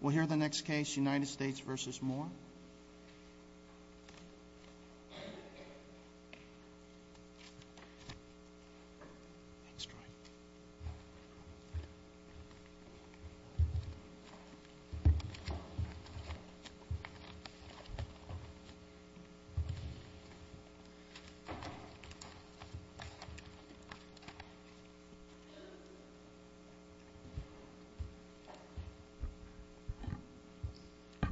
We'll hear the next case, United States v. Moore.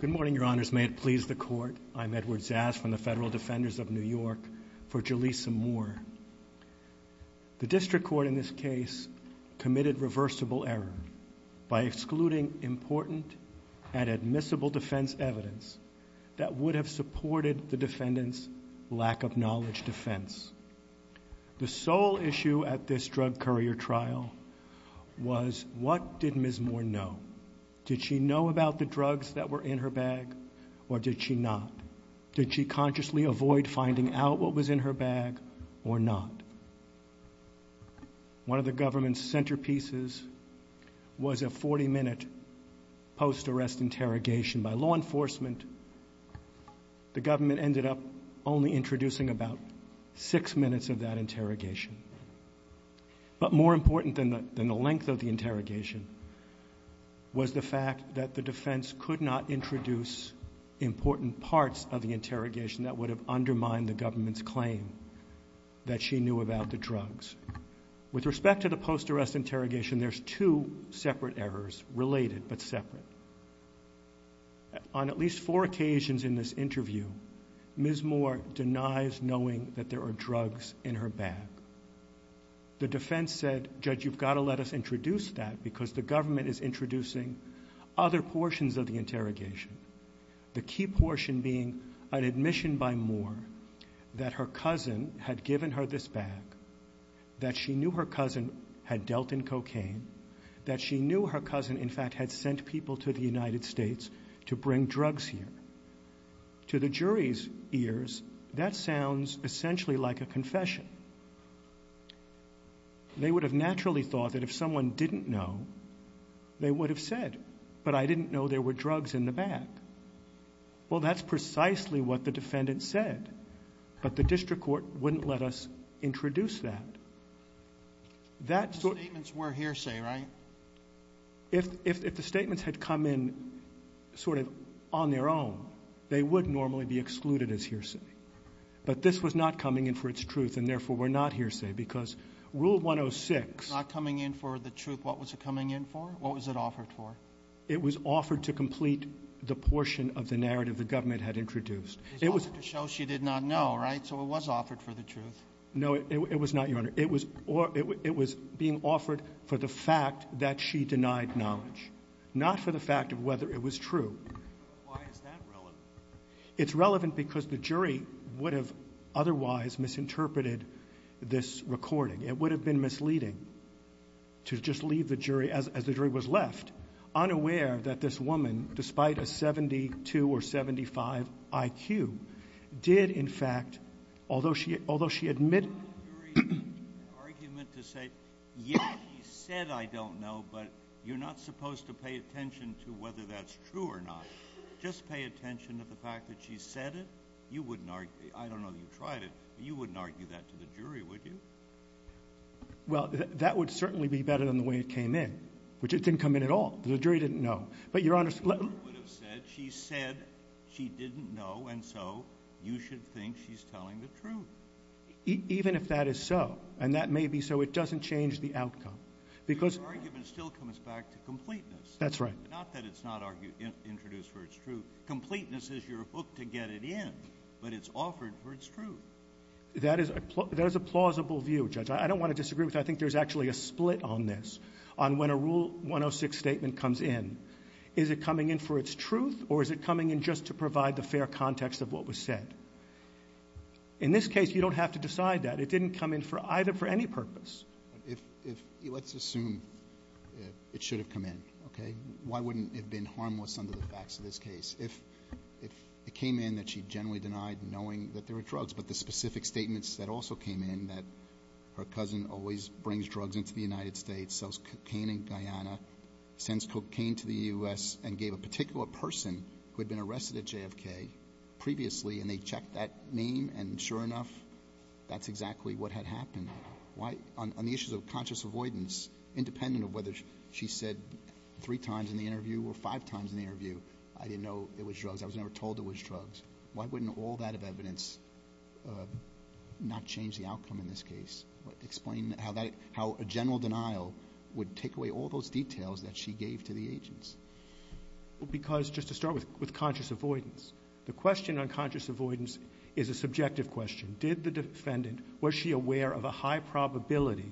Good morning, Your Honors. May it please the Court, I'm Edward Zas from the Federal Defenders of New York for Julissa Moore. The District Court in this case committed reversible error by excluding important and admissible defense evidence that would have supported the defendant's lack of knowledge defense. The sole issue at this drug courier trial was what did Ms. Moore know about the drugs that were in her bag or did she not? Did she consciously avoid finding out what was in her bag or not? One of the government's centerpieces was a 40-minute post-arrest interrogation by law enforcement. The government ended up only introducing about six minutes of that interrogation. But more important than the length of the interrogation was the fact that the defense could not introduce important parts of the interrogation that would have undermined the government's claim that she knew about the drugs. With respect to the post-arrest interrogation, there's two separate errors, related but separate. On at least four occasions in this interview, Ms. Moore denies knowing that there are drugs in her bag. The defense said, Judge, you've got to let us introduce that because the government is introducing other portions of the interrogation. The key portion being an admission by Moore that her cousin had given her this bag, that she knew her cousin had dealt in cocaine, that she knew her cousin, in fact, had sent people to the United States to bring drugs here. To the jury's ears, that sounds essentially like a confession. They would have naturally thought that if someone didn't know, they would have said, but I didn't know there were drugs in the bag. Well, that's precisely what the defendant said. But the district court wouldn't let us introduce that. If the statements had come in sort of on their own, they would normally be excluded as hearsay. But this was not coming in for its truth, and therefore we're not hearsay, because Rule 106- It's not coming in for the truth. What was it coming in for? What was it offered for? It was offered to complete the portion of the narrative the government had introduced. It's offered to show she did not know, right? So it was offered for the truth. No, it was not, Your Honor. It was being offered for the fact that she knew. Why is that relevant? It's relevant because the jury would have otherwise misinterpreted this recording. It would have been misleading to just leave the jury, as the jury was left, unaware that this woman, despite a 72 or 75 IQ, did in fact, although she admitted- The jury's argument to say, yes, she said I don't know, but you're not supposed to pay attention to whether that's true or not. Just pay attention to the fact that she said it. You wouldn't argue, I don't know that you tried it, but you wouldn't argue that to the jury, would you? Well, that would certainly be better than the way it came in, which it didn't come in at all. The jury didn't know. But, Your Honor- The jury would have said, she said she didn't know, and so you should think she's telling the truth. Even if that is so, and that may be so, it doesn't change the outcome. Because- Not that it's not introduced for its truth. Completeness is your hook to get it in, but it's offered for its truth. That is a plausible view, Judge. I don't want to disagree with that. I think there's actually a split on this, on when a Rule 106 statement comes in. Is it coming in for its truth, or is it coming in just to provide the fair context of what was said? In this case, you don't have to decide that. It didn't come in either for any purpose. Let's assume it should have come in, okay? Why wouldn't it have been harmless under the facts of this case? If it came in that she generally denied knowing that there were drugs, but the specific statements that also came in, that her cousin always brings drugs into the United States, sells cocaine in Guyana, sends cocaine to the U.S., and gave a particular person who had been arrested at JFK previously, and they checked that name, and sure enough, that's exactly what had happened. On the issues of conscious avoidance, independent of whether she said three times in the interview or five times in the interview, I didn't know it was drugs. I was never told it was drugs. Why wouldn't all that evidence not change the outcome in this case? Explain how a general denial would take away all those details that she gave to the agents. Because just to start with, with conscious avoidance, the question on conscious avoidance is a subjective question. Did the defendant, was she aware of a high probability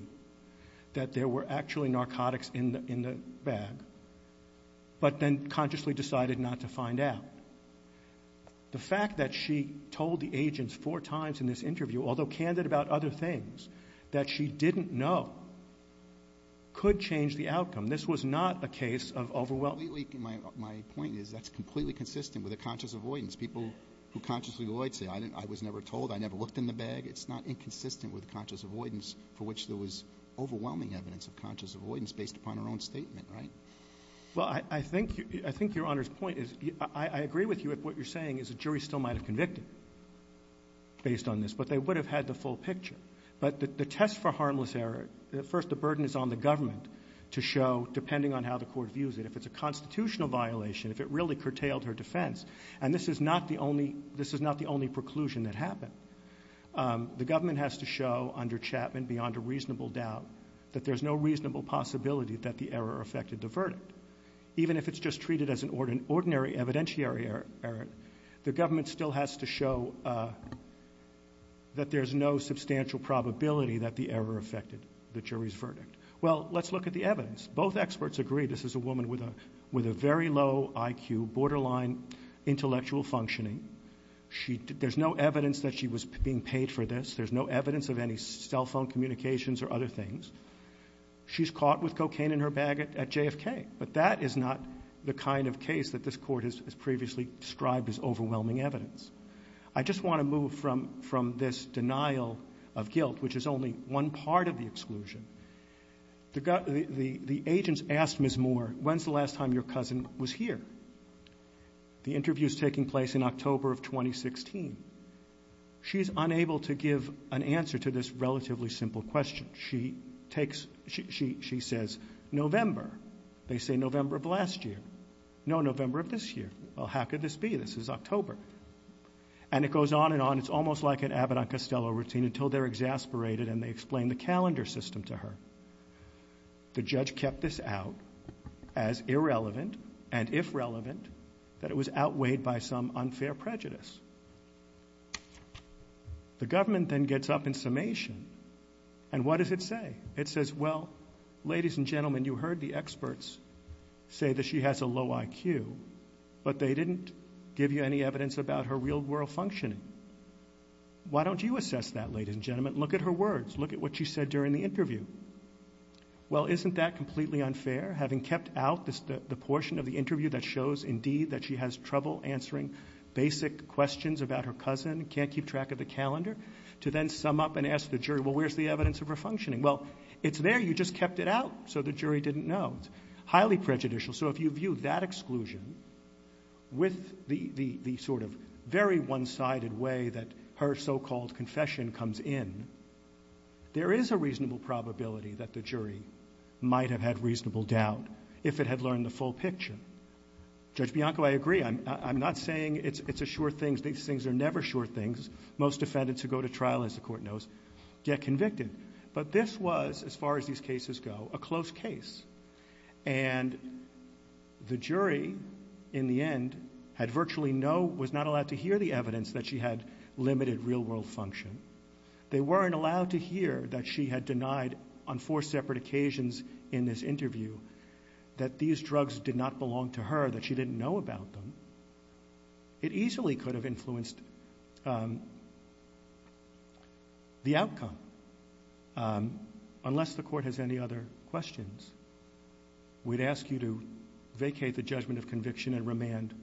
that there were actually narcotics in the bag, but then consciously decided not to find out? The fact that she told the agents four times in this interview, although candid about other things, that she didn't know, could change the outcome. This was not a case of overwhelming My point is that's completely consistent with a conscious avoidance. People who consciously avoid say, I was never told, I never looked in the bag. It's not inconsistent with conscious avoidance for which there was overwhelming evidence of conscious avoidance based upon her own statement, right? Well, I think Your Honor's point is, I agree with you if what you're saying is the jury still might have convicted based on this, but they would have had the full picture. But the test for harmless error, first, the burden is on the government to show, depending on how the court views it, if it's a constitutional violation, if it really curtailed her defense, and this is not the only, this is not the only preclusion that happened. The government has to show, under Chapman, beyond a reasonable doubt, that there's no reasonable possibility that the error affected the verdict. Even if it's just treated as an ordinary evidentiary error, the government still has to show that there's no substantial probability that the a woman with a very low IQ, borderline intellectual functioning, there's no evidence that she was being paid for this, there's no evidence of any cell phone communications or other things, she's caught with cocaine in her bag at JFK. But that is not the kind of case that this court has previously described as overwhelming evidence. I just want to move from this denial of guilt, which is only one part of the exclusion. The agents asked Ms. Moore, when's the last time your cousin was here? The interview's taking place in October of 2016. She's unable to give an answer to this relatively simple question. She takes, she says, November. They say, November of last year. No, November of this year. Well, how could this be? This is October. And it goes on and on, it's almost like an Avedon-Costello routine until they're exasperated and they explain the calendar system to her. The judge kept this out as irrelevant, and if relevant, that it was outweighed by some unfair prejudice. The government then gets up in summation, and what does it say? It says, well, ladies and gentlemen, you heard the experts say that she has a low IQ, but they didn't give you any evidence about her real-world functioning. Why don't you assess that, ladies and gentlemen? Look at her words. Look at what she said during the interview. Well, isn't that completely unfair? Having kept out the portion of the interview that shows, indeed, that she has trouble answering basic questions about her cousin, can't keep track of the calendar, to then sum up and ask the jury, well, where's the evidence of her functioning? Well, it's there, you just kept it out so the jury didn't know. It's highly prejudicial. So if you view that exclusion with the sort of very one-sided way that her so-called confession comes in, there is a reasonable probability that the jury might have had reasonable doubt if it had learned the full picture. Judge Bianco, I agree. I'm not saying it's a sure thing. These things are never sure things. Most defendants who go to trial, as the Court knows, get convicted. But this was, as far as these cases go, a close case. And the jury, in the end, had virtually no, was not allowed to hear the evidence that she had limited real-world function. They weren't allowed to hear that she had denied on four separate occasions in this interview that these drugs did not belong to her, that she didn't know about them. It easily could have influenced the outcome. Unless the Court has any other questions, we'd ask you to vacate the judgment of conviction and remand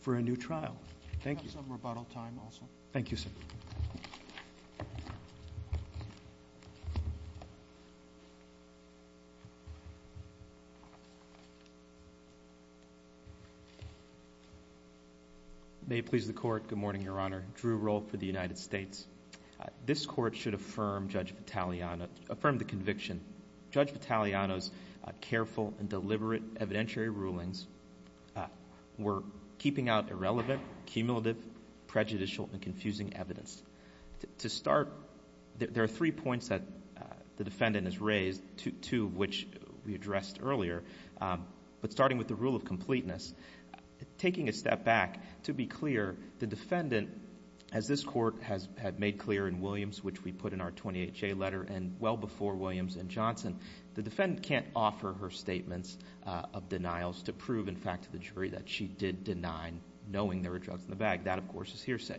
for a new trial. Thank you. May it please the Court, good morning, Your Honor. Drew Rohl for the United States. This Court should affirm Judge Vitaliano, affirm the conviction. Judge Vitaliano's careful and deliberate evidentiary rulings were keeping out irrelevant, cumulative, prejudicial, and controversial evidence. There are three points that the defendant has raised, two of which we addressed earlier. But starting with the rule of completeness, taking a step back, to be clear, the defendant, as this Court had made clear in Williams, which we put in our 28-J letter, and well before Williams and Johnson, the defendant can't offer her statements of denials to prove, in fact, to the jury that she did deny, knowing there were drugs in the bag. That, of course, is hearsay.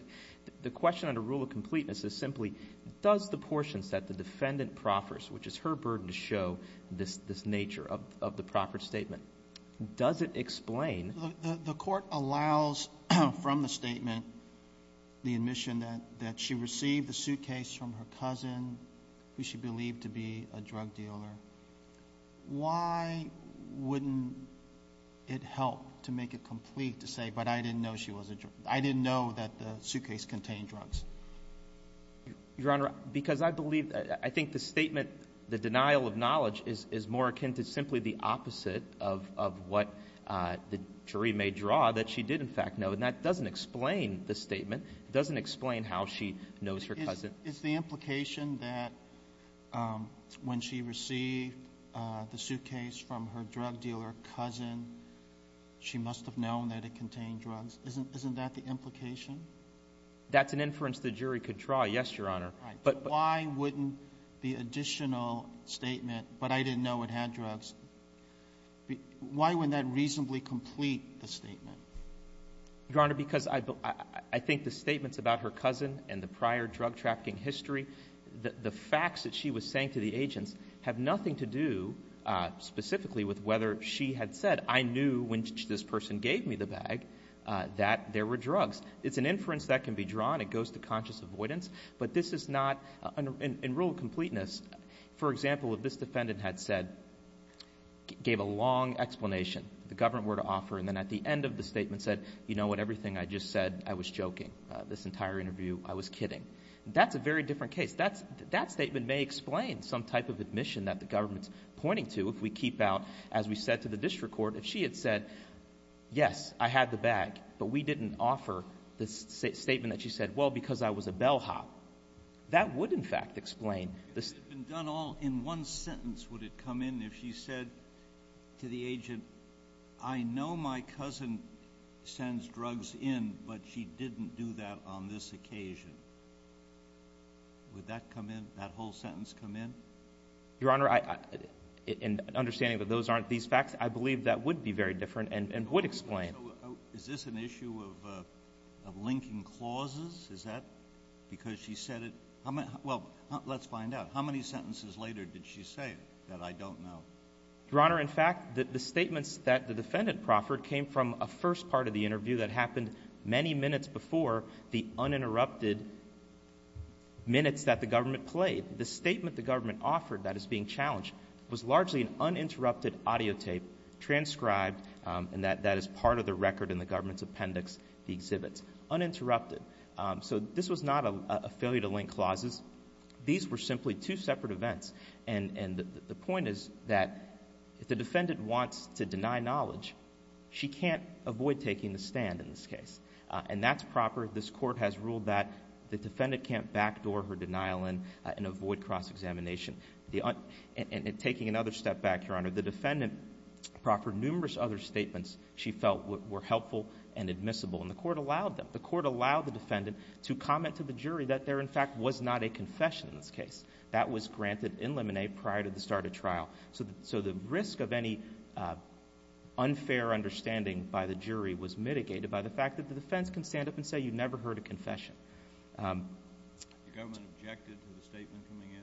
The question on the rule of completeness is simply, does the portions that the defendant proffers, which is her burden to show this nature of the proffered statement, does it explain? The Court allows, from the statement, the admission that she received the suitcase from her cousin, who she believed to be a drug dealer. Why wouldn't it help to make it complete to say, but I didn't know she contained drugs? Your Honor, because I believe, I think the statement, the denial of knowledge, is more akin to simply the opposite of what the jury may draw, that she did, in fact, know. And that doesn't explain the statement. It doesn't explain how she knows her cousin. Is the implication that when she received the suitcase from her drug dealer cousin, she must have known that it contained drugs, isn't that the implication? That's an inference the jury could draw, yes, Your Honor. Right. But why wouldn't the additional statement, but I didn't know it had drugs, why wouldn't that reasonably complete the statement? Your Honor, because I think the statements about her cousin and the prior drug-trafficking history, the facts that she was saying to the agents have nothing to do specifically with whether she had said, I knew when this person gave me the bag that there were drugs. It's an inference that can be drawn. It goes to conscious avoidance. But this is not, in rule of completeness, for example, if this defendant had said, gave a long explanation that the government were to offer, and then at the end of the statement said, you know what, everything I just said, I was joking. This entire interview, I was kidding. That's a very different case. That statement may explain some type of admission that the we said to the district court, if she had said, yes, I had the bag, but we didn't offer the statement that she said, well, because I was a bellhop, that would, in fact, explain this. If it had been done all in one sentence, would it come in if she said to the agent, I know my cousin sends drugs in, but she didn't do that on this occasion? Would that come in, that whole sentence come in? Your Honor, in understanding that those aren't these facts, I believe that would be very different and would explain. Is this an issue of linking clauses? Is that because she said it? Well, let's find out. How many sentences later did she say that I don't know? Your Honor, in fact, the statements that the defendant proffered came from a first part of the interview that happened many minutes before the uninterrupted minutes that the government offered that is being challenged was largely an uninterrupted audio tape transcribed and that is part of the record in the government's appendix, the exhibits. Uninterrupted. So this was not a failure to link clauses. These were simply two separate events. And the point is that if the defendant wants to deny knowledge, she can't avoid taking the stand in this case. And that's proper. This court has ruled that the defendant can't backdoor her denial and avoid cross-examination. Taking another step back, Your Honor, the defendant proffered numerous other statements she felt were helpful and admissible and the court allowed them. The court allowed the defendant to comment to the jury that there, in fact, was not a confession in this case. That was granted in limine prior to the start of trial. So the risk of any unfair understanding by the jury was mitigated by the fact that the defense can stand up and say you never heard a confession. The government objected to the statement coming in?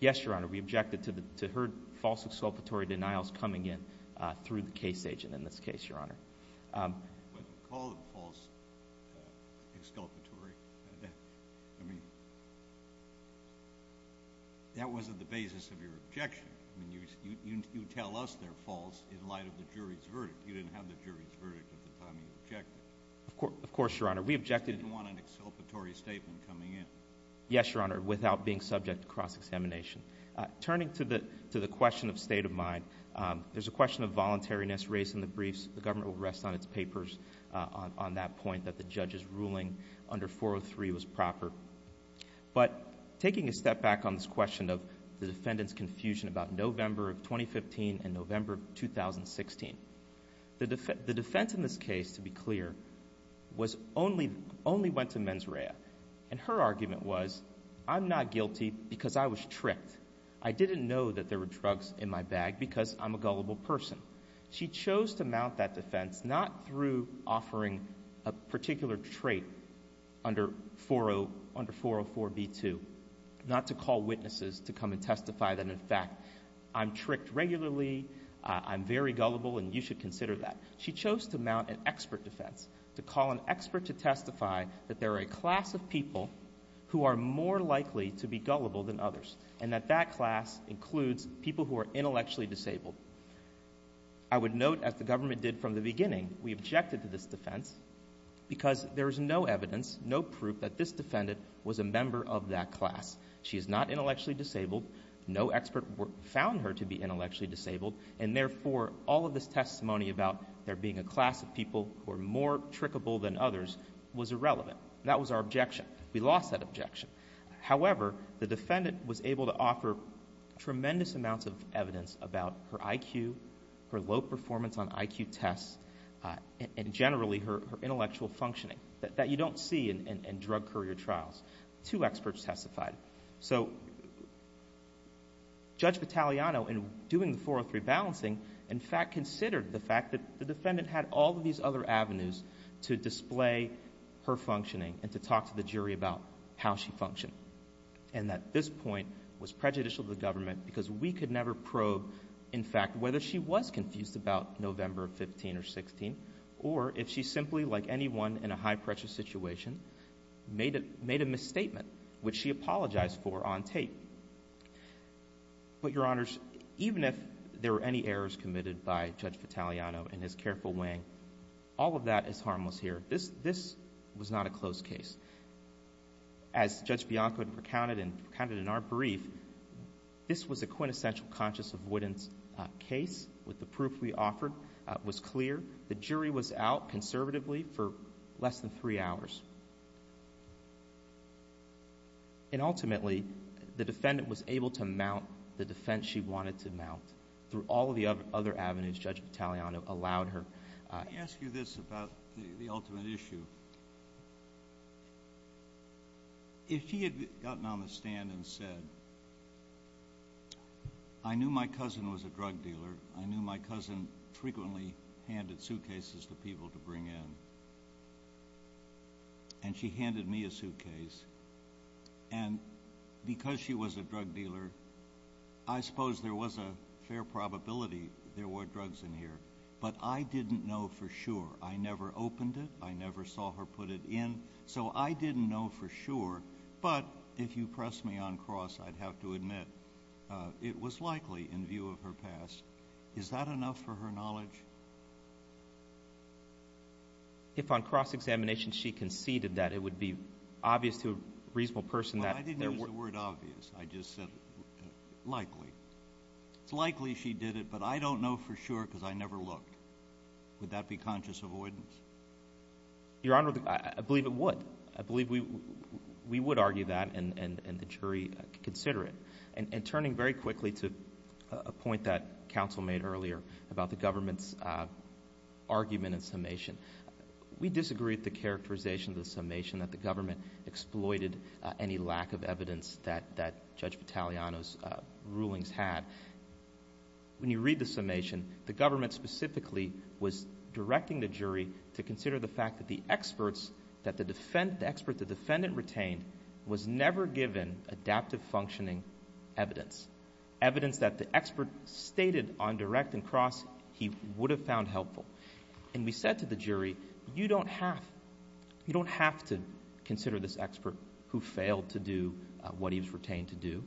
Yes, Your Honor. We objected to heard false exculpatory denials coming in through the case agent in this case, Your Honor. But call it false exculpatory? I mean, that wasn't the basis of your objection. I mean, you tell us they're false in light of the jury's verdict. You didn't have the jury's verdict at the time you objected. Of course, Your Honor. We objected to You didn't want an exculpatory statement coming in? Yes, Your Honor, without being subject to cross-examination. Turning to the question of state of mind, there's a question of voluntariness raised in the briefs. The government will rest on its papers on that point that the judge's ruling under 403 was proper. But taking a step back on this question of the defendant's confusion about November of 2015 and November of 2016, the defense in this case, to be clear, only went to mens rea. And her argument was, I'm not guilty because I was tricked. I didn't know that there were drugs in my bag because I'm a gullible person. She chose to mount that defense not through offering a particular trait under 404b2, not to call witnesses to come and testify that, in fact, I'm tricked regularly, I'm very gullible, and you should consider that. She chose to mount an expert defense, to call an expert to testify that there are a class of people who are more likely to be gullible than others and that that class includes people who are intellectually disabled. I would note, as the government did from the beginning, we objected to this defense because there is no evidence, no proof that this defendant was a member of that class. She is not intellectually disabled. No expert found her to be intellectually disabled. And therefore, all of this testimony about there being a class of people who are more trickable than others was irrelevant. That was our objection. We lost that objection. However, the defendant was able to offer tremendous amounts of evidence about her IQ, her low performance on IQ tests, and generally her intellectual functioning that you don't see in drug courier trials. Two experts testified. So Judge Battagliano, in doing the 403 balancing, in fact considered the fact that the defendant had all of these other avenues to display her functioning and to talk to the jury about how she functioned, and that this point was prejudicial to the government because we could never probe, in fact, whether she was confused about November 15 or 16, or if she simply, like anyone in a high-pressure situation, made a misstatement which she apologized for on tape. But, Your Honors, even if there were any errors committed by Judge Battagliano in his careful weighing, all of that is harmless here. This was not a closed case. As Judge Bianco had recounted in our brief, this was a quintessential conscious avoidance case with the proof we offered was clear. The jury was out conservatively for less than three hours. And ultimately, the defendant was able to mount the defense she wanted to mount through all of the other avenues Judge Battagliano allowed her. Let me ask you this about the ultimate issue. If she had gotten on the stand and said, I knew my cousin was a drug dealer, I knew my cousin frequently handed suitcases to people to bring in, and she handed me a suitcase, and because she was a drug dealer, I suppose there was a fair probability there were drugs in here. But I didn't know for sure. I never opened it. I never saw her put it in. So I didn't know for sure. But if you press me on cross, I'd have to admit it was likely in view of her past. Is that enough for her knowledge? If on cross-examination she conceded that it would be obvious to a reasonable person I didn't use the word obvious. I just said likely. It's likely she did it, but I don't know for sure because I never looked. Would that be conscious avoidance? Your Honor, I believe it would. I believe we would argue that and the jury consider it. And turning very quickly to a point that counsel made earlier about the government's argument in summation, we disagree with the characterization of the summation that the government exploited any lack of evidence that Judge Battagliano's rulings had. When you read the summation, the government specifically was directing the jury to consider the fact that the expert the defendant retained was never given adaptive functioning evidence, evidence that the expert stated on direct and cross he would have found helpful. And we said to the jury, you don't have, you don't have to consider this expert who failed to do what he was retained to do.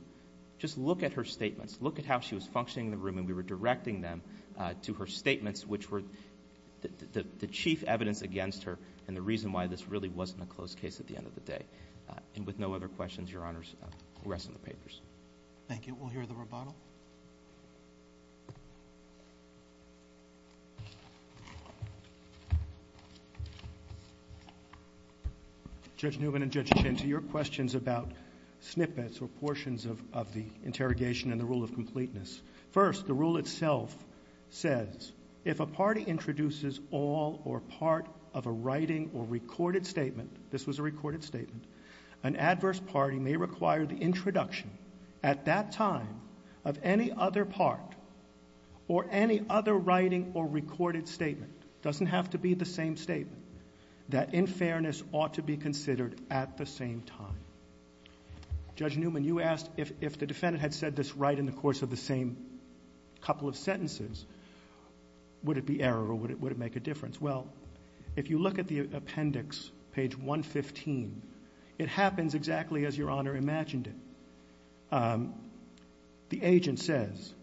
Just look at her statements. Look at how she was functioning in the room and we were directing them to her statements which were the chief evidence against her and the reason why this really wasn't a close case at the end of the day. And with no other questions, Your Honors, the rest of the papers. Thank you. We'll hear the rebuttal. Judge Newman and Judge Chianti, your questions about snippets or portions of the interrogation and the rule of completeness. First, the rule itself says, if a party introduces all or part of a writing or recorded statement, this was a recorded statement, an adverse party may require the introduction at that time of any other part or any other writing or recorded statement, doesn't have to be the same statement, that in fairness ought to be considered at the same time. Judge Newman, you asked if the defendant had said this right in the course of the same couple of sentences, would it be error or would it make a difference? Well, if you look at the appendix, page 115, it happens exactly as Your Honor imagined it. The agent says,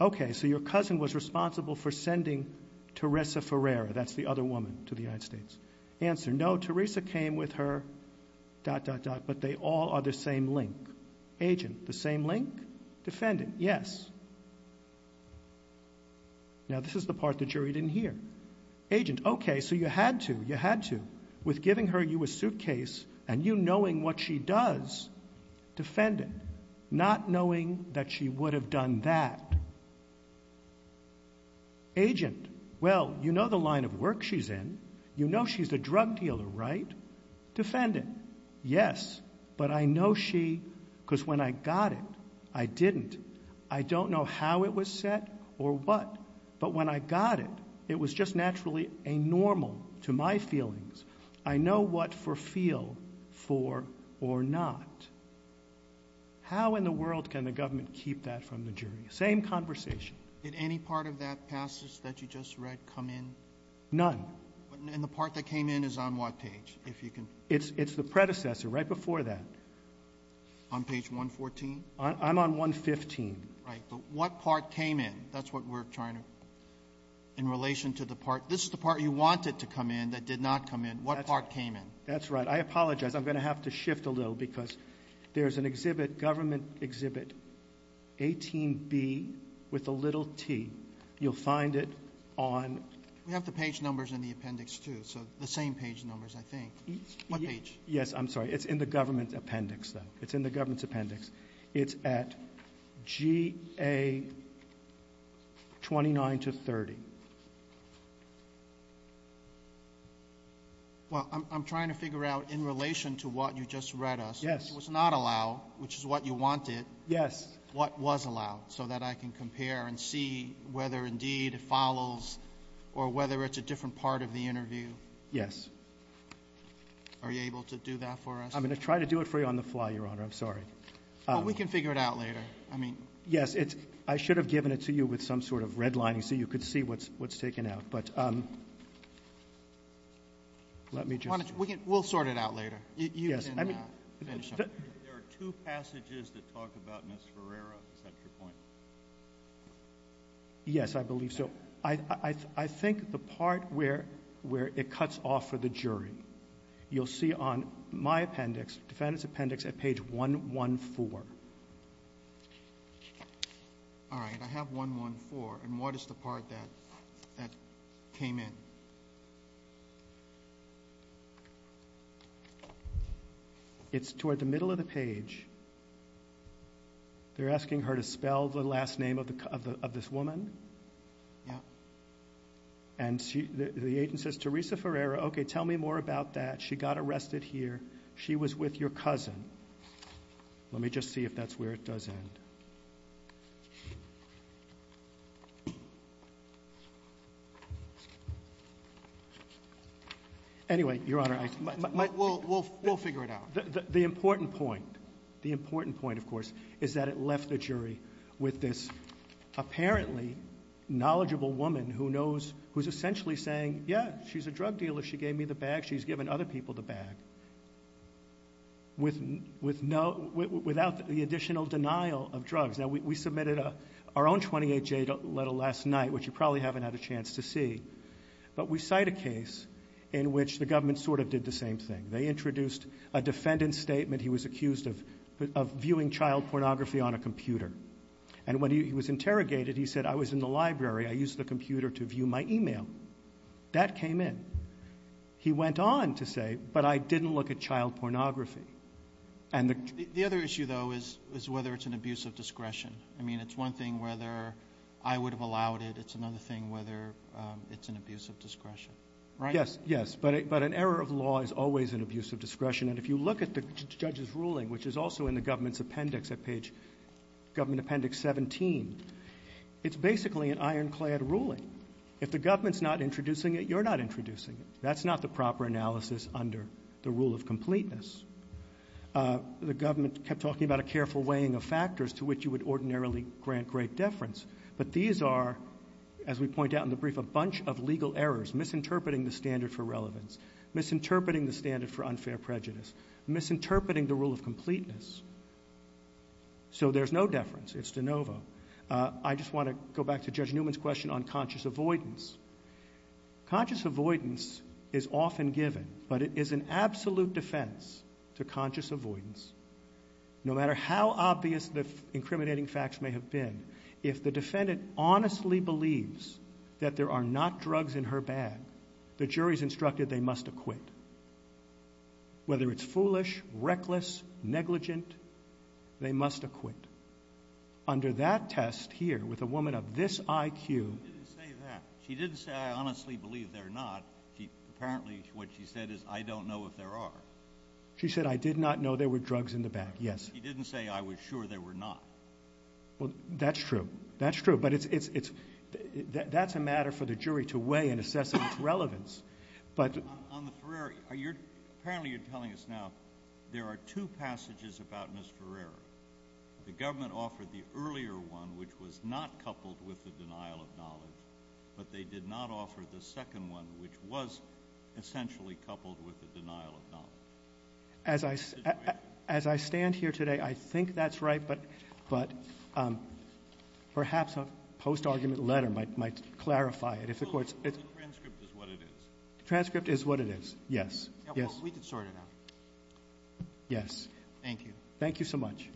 okay, so your cousin was responsible for sending Teresa Ferreira, that's the other woman, to the United States. Answer, no, Teresa came with her...but they all are the same link. Agent, the same link? Defendant, yes. Now this is the part the jury didn't hear. Agent, okay, so you had to, you had to, with giving her you a suitcase and you knowing what she does. Defendant, not knowing that she would have done that. Agent, well, you know the line of work she's in, you know she's a drug dealer, right? Defendant, yes, but I know she...because when I got it, I didn't. I don't know how it was set or what, but when I got it, it was just naturally a normal to my feelings. I know what for feel, for, or not. How in the world can the government keep that from the jury? Same conversation. Did any part of that passage that you just read come in? None. And the part that came in is on what page? It's the predecessor, right before that. On page 114? I'm on 115. Right, but what part came in? That's what we're trying to...in relation to the part...this is the part you wanted to come in that did not come in. What part came in? That's right. I apologize. I'm going to have to shift a little because there's an exhibit, government exhibit, 18B with a little t. You'll find it on... We have the page numbers in the appendix, too, so the same page numbers, I think. What page? Yes, I'm sorry. It's in the government appendix, though. It's in the government's appendix. It's at G.A. 29 to 30. Well, I'm trying to figure out in relation to what you just read us. Yes. It was not allowed, which is what you wanted. Yes. What was allowed so that I can compare and see whether indeed it follows or whether it's a different part of the interview? Yes. Are you able to do that for us? I'm going to try to do it for you on the fly, Your Honor. I'm sorry. We can figure it out later. Yes, I should have given it to you with some sort of red lining so you could see what's taken out, but let me just... We'll sort it out later. There are two passages that talk about Ms. Ferreira. Is that your point? Yes, I believe so. I think the part where it cuts off for the jury, you'll see on my appendix, the defendant's appendix, at page 114. All right. I have 114, and what is the part that came in? It's toward the middle of the page. They're asking her to spell the last name of this woman, and the agent says, Teresa Ferreira. Okay, tell me more about that. She got arrested here. She was with your cousin. Let me just see if that's where it does end. Anyway, Your Honor, I... We'll figure it out. The important point, of course, is that it left the jury with this apparently knowledgeable woman who's essentially saying, yeah, she's a drug dealer. She gave me the bag. She's given other people the bag without the additional denial of drugs. Now, we submitted our own 28-J letter last night, which you can see in the slide, and we cited a case in which the government sort of did the same thing. They introduced a defendant's statement. He was accused of viewing child pornography on a computer, and when he was interrogated, he said, I was in the library. I used the computer to view my email. That came in. He went on to say, but I didn't look at child pornography. You say today, but it's a violation of law. You're using it to accuse someone of abusing discretion, right? Yes, yes. But an error of law is always an abuse of discretion, and if you look at the judge's ruling, which is also in the government's appendix at page 17, it's basically an ironclad ruling. If the government's not introducing it, you're not introducing it. That's not the proper analysis under the rule of completeness. The government kept talking about a careful weighing of factors to which you would ordinarily grant great deference, but these are, as we point out in the brief, a bunch of legal errors, misinterpreting the standard for relevance, misinterpreting the standard for unfair prejudice, misinterpreting the rule of completeness. So there's no deference. It's de novo. I just want to go back to Judge Newman's question on conscious avoidance. Conscious avoidance is often given, but it is an absolute defense to conscious avoidance. No matter how obvious the incriminating facts may have been, if the defendant honestly believes that there are not drugs in her bag, the jury's instructed they must acquit. Whether it's foolish, reckless, negligent, they must acquit. Under that test here, with a woman of this IQ... She didn't say that. She didn't say, I honestly believe there are not. Apparently what she said is, I don't know if there are. She said, I did not know there were drugs in the bag. Yes. She didn't say, I was sure there were not. Well, that's true. That's true. That's a matter for the jury to weigh and assess its relevance. On the Ferreri, apparently you're telling us now there are two passages about Ms. Ferreri. The government offered the earlier one, which was not coupled with the denial of knowledge, but they did not offer the second one, which was essentially coupled with the denial of knowledge. As I stand here today, I think that's right, but perhaps a post-argument letter might clarify it. The transcript is what it is. The transcript is what it is, yes. We can sort it out. Yes. Thank you. Thank you so much.